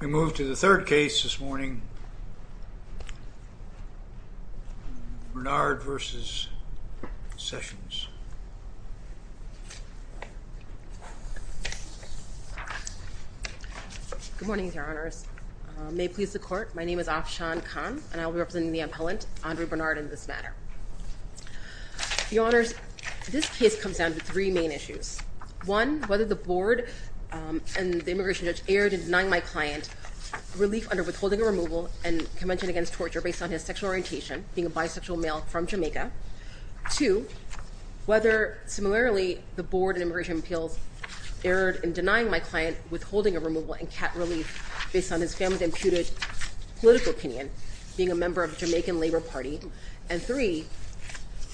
We move to the third case this morning, Bernard v. Sessions. Good morning, Your Honors. May it please the Court, my name is Afshan Khan, and I will be representing the appellant, Andre Bernard, in this matter. Your Honors, this case comes down to three main issues. One, whether the board and the immigration judge erred in denying my client relief under withholding a removal and convention against torture based on his sexual orientation, being a bisexual male from Jamaica. Two, whether, similarly, the board and immigration appeals erred in denying my client withholding a removal and cat relief based on his family's imputed political opinion, being a member of a Jamaican labor party. And three,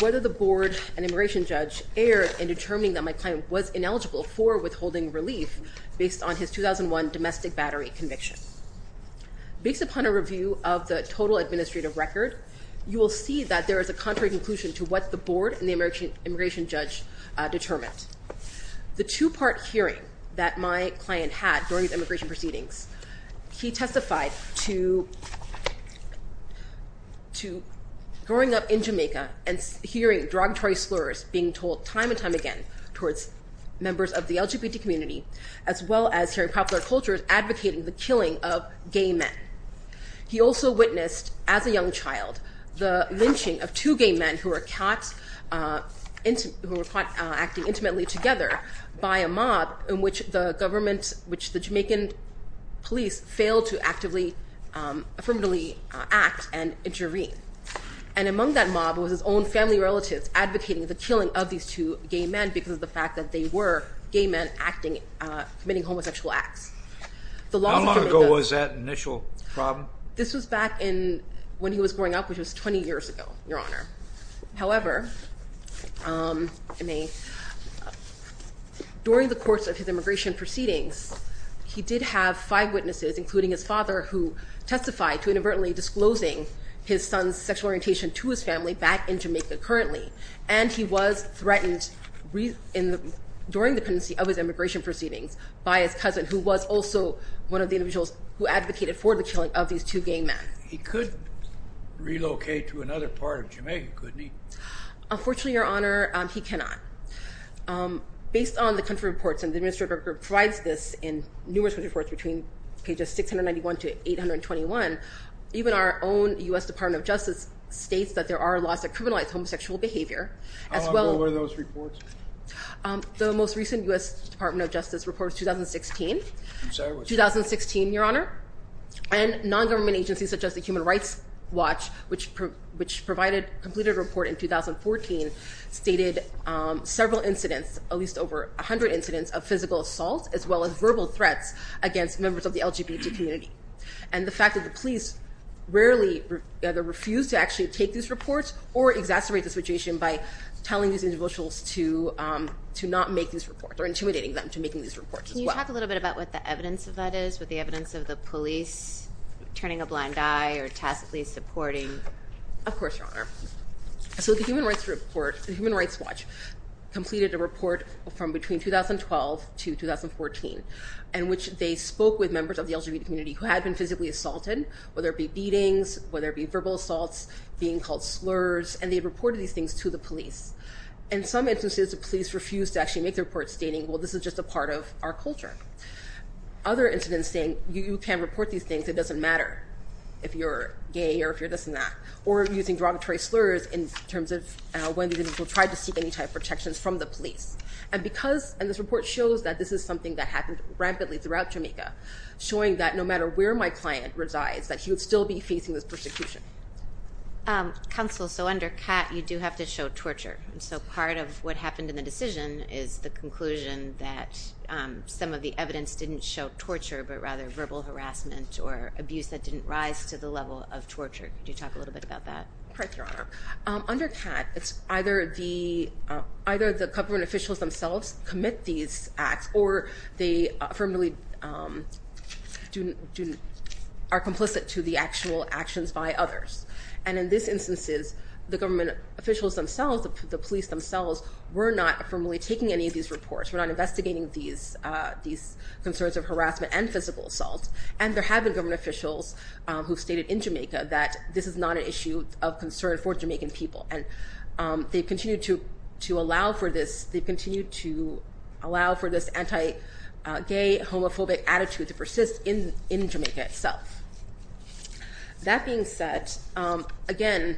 whether the board and immigration judge erred in determining that my client was ineligible for withholding relief based on his 2001 domestic battery conviction. Based upon a review of the total administrative record, you will see that there is a contrary conclusion to what the board and the immigration judge determined. The two-part hearing that my client had during his immigration proceedings, he testified to growing up in Jamaica and hearing derogatory slurs being told time and time again towards members of the LGBT community, as well as hearing popular cultures advocating the killing of gay men. He also witnessed, as a young child, the lynching of two gay men who were caught acting intimately together by a mob in which the government, which the Jamaican police failed to actively, affirmatively act and intervene. And among that mob was his own family relatives advocating the killing of these two gay men because of the fact that they were gay men acting, committing homosexual acts. How long ago was that initial problem? This was back in when he was growing up, which was 20 years ago, Your Honor. However, during the course of his immigration proceedings, he did have five witnesses, including his father, who testified to inadvertently disclosing his son's sexual orientation to his family back in Jamaica currently. And he was threatened during the pendency of his immigration proceedings by his cousin, who was also one of the individuals who advocated for the killing of these two gay men. He could relocate to another part of Jamaica, couldn't he? Unfortunately, Your Honor, he cannot. Based on the country reports, and the Administrator Group provides this in numerous reports between pages 691 to 821, even our own U.S. Department of Justice states that there are laws that criminalize homosexual behavior. How long ago were those reports? The most recent U.S. Department of Justice report was 2016. I'm sorry, what's that? Several incidents, at least over 100 incidents of physical assault, as well as verbal threats against members of the LGBT community. And the fact that the police rarely either refuse to actually take these reports or exacerbate the situation by telling these individuals to not make these reports or intimidating them to making these reports as well. Can you talk a little bit about what the evidence of that is, with the evidence of the police turning a blind eye or tacitly supporting? Of course, Your Honor. So the Human Rights Watch completed a report from between 2012 to 2014 in which they spoke with members of the LGBT community who had been physically assaulted, whether it be beatings, whether it be verbal assaults, being called slurs, and they reported these things to the police. In some instances, the police refused to actually make the report, stating, well, this is just a part of our culture. Other incidents saying, you can report these things, it doesn't matter if you're gay or if you're this and that, or using derogatory slurs in terms of when these individuals tried to seek any type of protections from the police. And this report shows that this is something that happened rampantly throughout Jamaica, showing that no matter where my client resides, that he would still be facing this persecution. Counsel, so under CAT, you do have to show torture. So part of what happened in the decision is the conclusion that some of the evidence didn't show torture, but rather verbal harassment or abuse that didn't rise to the level of torture. Could you talk a little bit about that? Right, Your Honor. Under CAT, it's either the government officials themselves commit these acts, or they are complicit to the actual actions by others. And in these instances, the government officials themselves, the police themselves, were not formally taking any of these reports, were not investigating these concerns of harassment and physical assault. And there have been government officials who stated in Jamaica that this is not an issue of concern for Jamaican people. And they continue to allow for this, they continue to allow for this anti-gay, homophobic attitude to persist in Jamaica itself. That being said, again,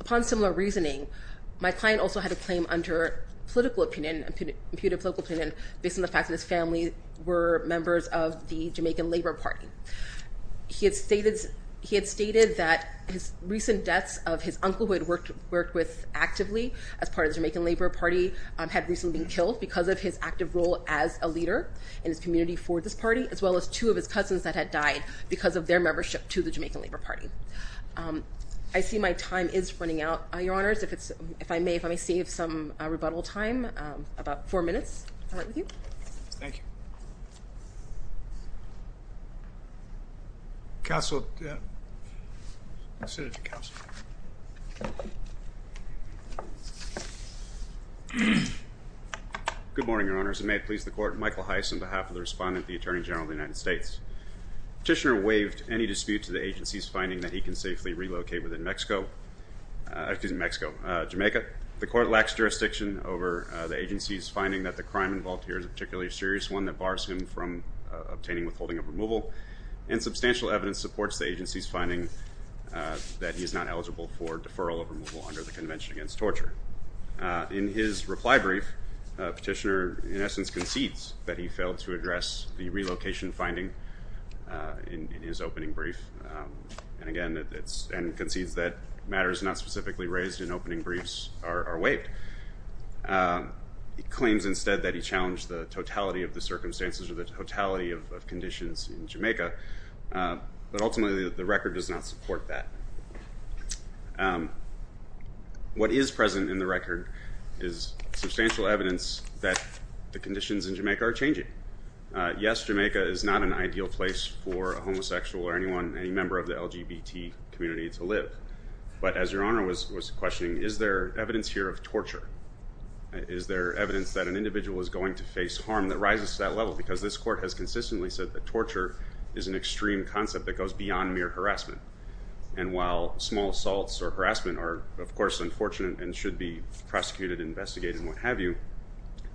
upon similar reasoning, my client also had a claim under political opinion, imputed political opinion, based on the fact that his family were members of the Jamaican Labor Party. He had stated that his recent deaths of his uncle, who he had worked with actively as part of the Jamaican Labor Party, had recently been killed because of his active role as a leader in his community for this party, as well as two of his cousins that had died because of their membership to the Jamaican Labor Party. I see my time is running out, Your Honors. If I may, if I may save some rebuttal time, about four minutes. I'll start with you. Thank you. Counsel, Senator Counsel. Good morning, Your Honors. It may please the Court, Michael Heiss on behalf of the Respondent, the Attorney General of the United States. Petitioner waived any dispute to the agency's finding that he can safely relocate within Mexico, excuse me, Mexico, Jamaica. The Court lacks jurisdiction over the agency's finding that the crime involved here is a particularly serious one that bars him from obtaining withholding of removal, and substantial evidence supports the agency's finding that he is not eligible for deferral of removal under the Convention Against Torture. In his reply brief, Petitioner, in essence, concedes that he failed to address the relocation finding in his opening brief, and again, concedes that matters not specifically raised in opening briefs are waived. He claims instead that he challenged the totality of the circumstances or the totality of conditions in Jamaica, but ultimately the record does not support that. What is present in the record is substantial evidence that the conditions in Jamaica are changing. Yes, Jamaica is not an ideal place for a homosexual or anyone, any member of the LGBT community to live. But as Your Honor was questioning, is there evidence here of torture? Is there evidence that an individual is going to face harm that rises to that level? Because this Court has consistently said that torture is an extreme concept that goes beyond mere harassment. And while small assaults or harassment are, of course, unfortunate and should be prosecuted, investigated, and what have you,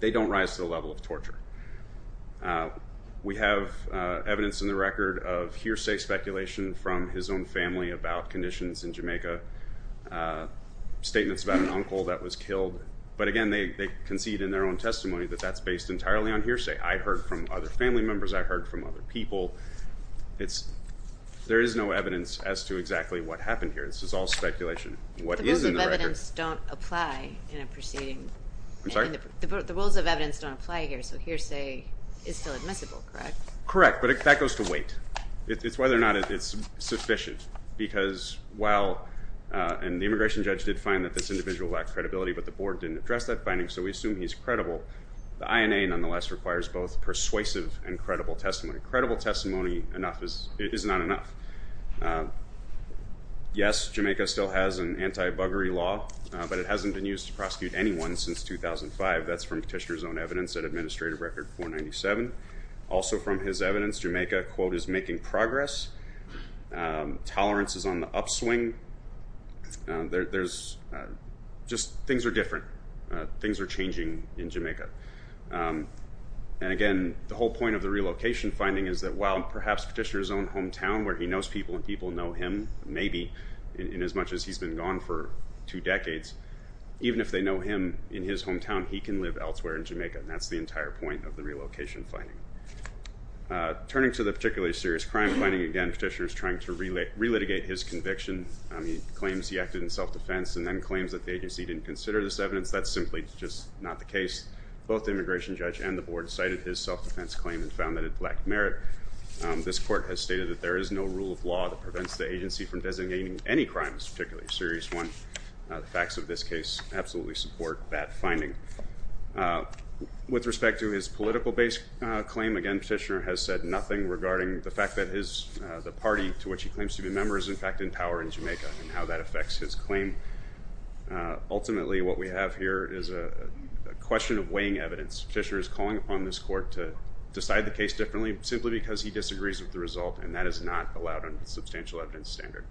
they don't rise to the level of torture. We have evidence in the record of hearsay speculation from his own family about conditions in Jamaica, statements about an uncle that was killed. But again, they concede in their own testimony that that's based entirely on hearsay. I heard from other family members. I heard from other people. There is no evidence as to exactly what happened here. This is all speculation. What is in the record? The rules of evidence don't apply in a proceeding. I'm sorry? The rules of evidence don't apply here, so hearsay is still admissible, correct? Correct, but that goes to wait. It's whether or not it's sufficient because while the immigration judge did find that this individual lacked credibility, but the board didn't address that finding, so we assume he's credible. The INA, nonetheless, requires both persuasive and credible testimony. Credible testimony is not enough. Yes, Jamaica still has an anti-buggery law, but it hasn't been used to prosecute anyone since 2005. That's from Petitioner's own evidence at Administrative Record 497. Also from his evidence, Jamaica, quote, is making progress. Tolerance is on the upswing. There's just things are different. Things are changing in Jamaica. And again, the whole point of the relocation finding is that while perhaps Petitioner's own hometown where he knows people and people know him, maybe, in as much as he's been gone for two decades, even if they know him in his hometown, he can live elsewhere in Jamaica, and that's the entire point of the relocation finding. Turning to the particularly serious crime finding, again, Petitioner's trying to relitigate his conviction. He claims he acted in self-defense and then claims that the agency didn't consider this evidence. That's simply just not the case. Both the immigration judge and the board cited his self-defense claim and found that it lacked merit. This court has stated that there is no rule of law that prevents the agency from designating any crimes, particularly a serious one. The facts of this case absolutely support that finding. With respect to his political base claim, again, Petitioner has said nothing regarding the fact that the party to which he claims to be a member is, in fact, in power in Jamaica and how that affects his claim. Ultimately, what we have here is a question of weighing evidence. Petitioner is calling upon this court to decide the case differently simply because he disagrees with the result, and that is not allowed under the substantial evidence standard.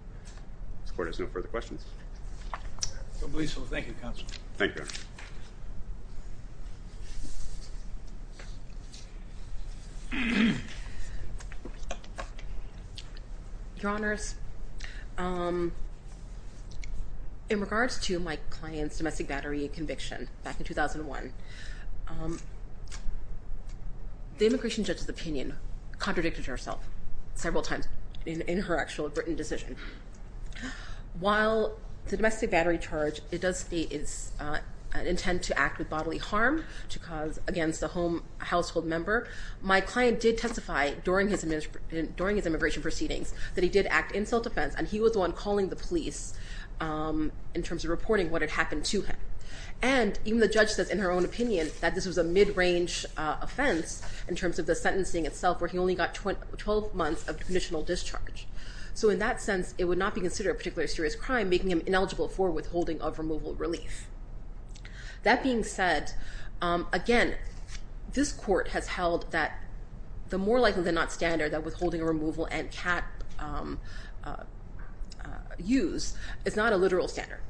This court has no further questions. I believe so. Thank you, Counsel. Thank you, Your Honor. Your Honors, in regards to my client's domestic battery conviction back in 2001, the immigration judge's opinion contradicted herself several times in her actual written decision. While the domestic battery charge does state its intent to act with bodily harm against a household member, my client did testify during his immigration proceedings that he did act in self-defense, and he was the one calling the police in terms of reporting what had happened to him. And even the judge says in her own opinion that this was a mid-range offense in terms of the sentencing itself where he only got 12 months of conditional discharge. So in that sense, it would not be considered a particularly serious crime, making him ineligible for withholding of removal relief. That being said, again, this court has held that the more likely than not standard that withholding removal and cap use is not a literal standard.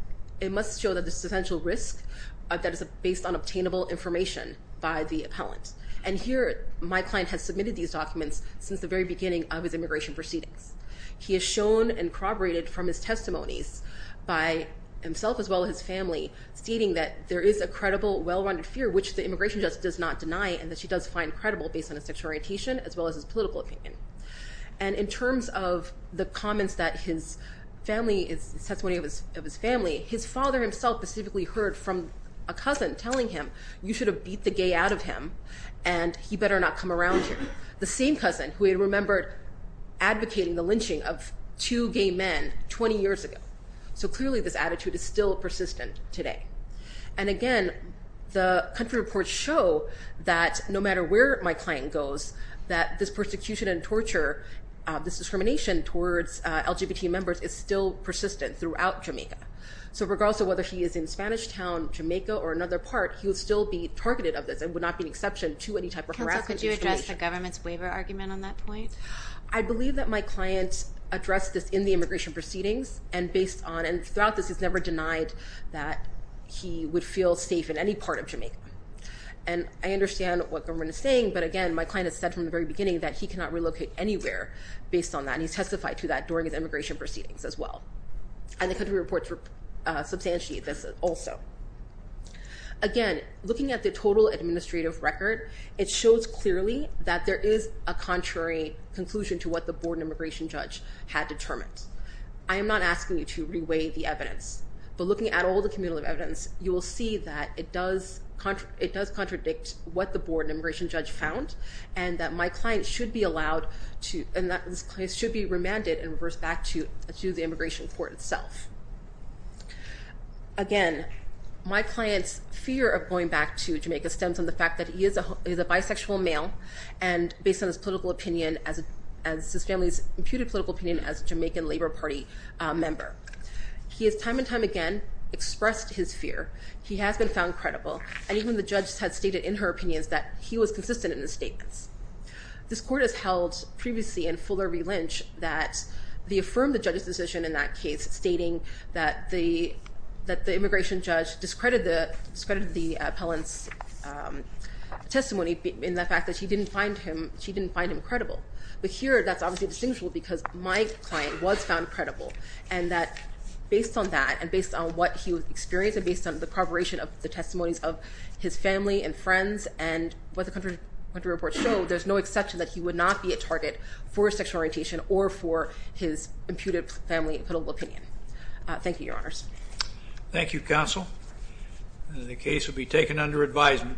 It must show that this is essential risk that is based on obtainable information by the appellant. And here, my client has submitted these documents since the very beginning of his immigration proceedings. He has shown and corroborated from his testimonies by himself as well as his family stating that there is a credible well-rounded fear, which the immigration judge does not deny and that she does find credible based on his sexual orientation as well as his political opinion. And in terms of the comments that his family, his testimony of his family, his father himself specifically heard from a cousin telling him, you should have beat the gay out of him and he better not come around here. The same cousin who he remembered advocating the lynching of two gay men 20 years ago. So clearly this attitude is still persistent today. And again, the country reports show that no matter where my client goes, that this persecution and torture, this discrimination towards LGBT members is still persistent throughout Jamaica. So regardless of whether he is in Spanish Town, Jamaica or another part, he would still be targeted of this and would not be an exception to any type of harassment. Counsel, could you address the government's waiver argument on that point? I believe that my client addressed this in the immigration proceedings and based on, and throughout this, he's never denied that he would feel safe in any part of Jamaica. And I understand what government is saying. But again, my client has said from the very beginning that he cannot relocate anywhere based on that. And he testified to that during his immigration proceedings as well. And the country reports substantiate this also. Again, looking at the total administrative record, it shows clearly that there is a contrary conclusion to what the board and immigration judge had determined. I am not asking you to reweigh the evidence. But looking at all the cumulative evidence, you will see that it does contradict what the board and immigration judge found and that my client should be remanded and reversed back to the immigration court itself. Again, my client's fear of going back to Jamaica stems from the fact that he is a bisexual male. And based on his political opinion, as his family's imputed political opinion, as a Jamaican Labor Party member. He has time and time again expressed his fear. He has been found credible. And even the judge had stated in her opinions that he was consistent in his statements. This court has held previously in fuller relinch that they affirmed the judge's decision in that case, stating that the immigration judge discredited the appellant's testimony in the fact that she didn't find him credible. But here, that's obviously distinguishable because my client was found credible. And that based on that, and based on what he experienced, and based on the corroboration of the testimonies of his family and friends, and what the country reports show, there's no exception that he would not be a target for sexual orientation or for his imputed family political opinion. Thank you, Your Honors. Thank you, Counsel. The case will be taken under advisement.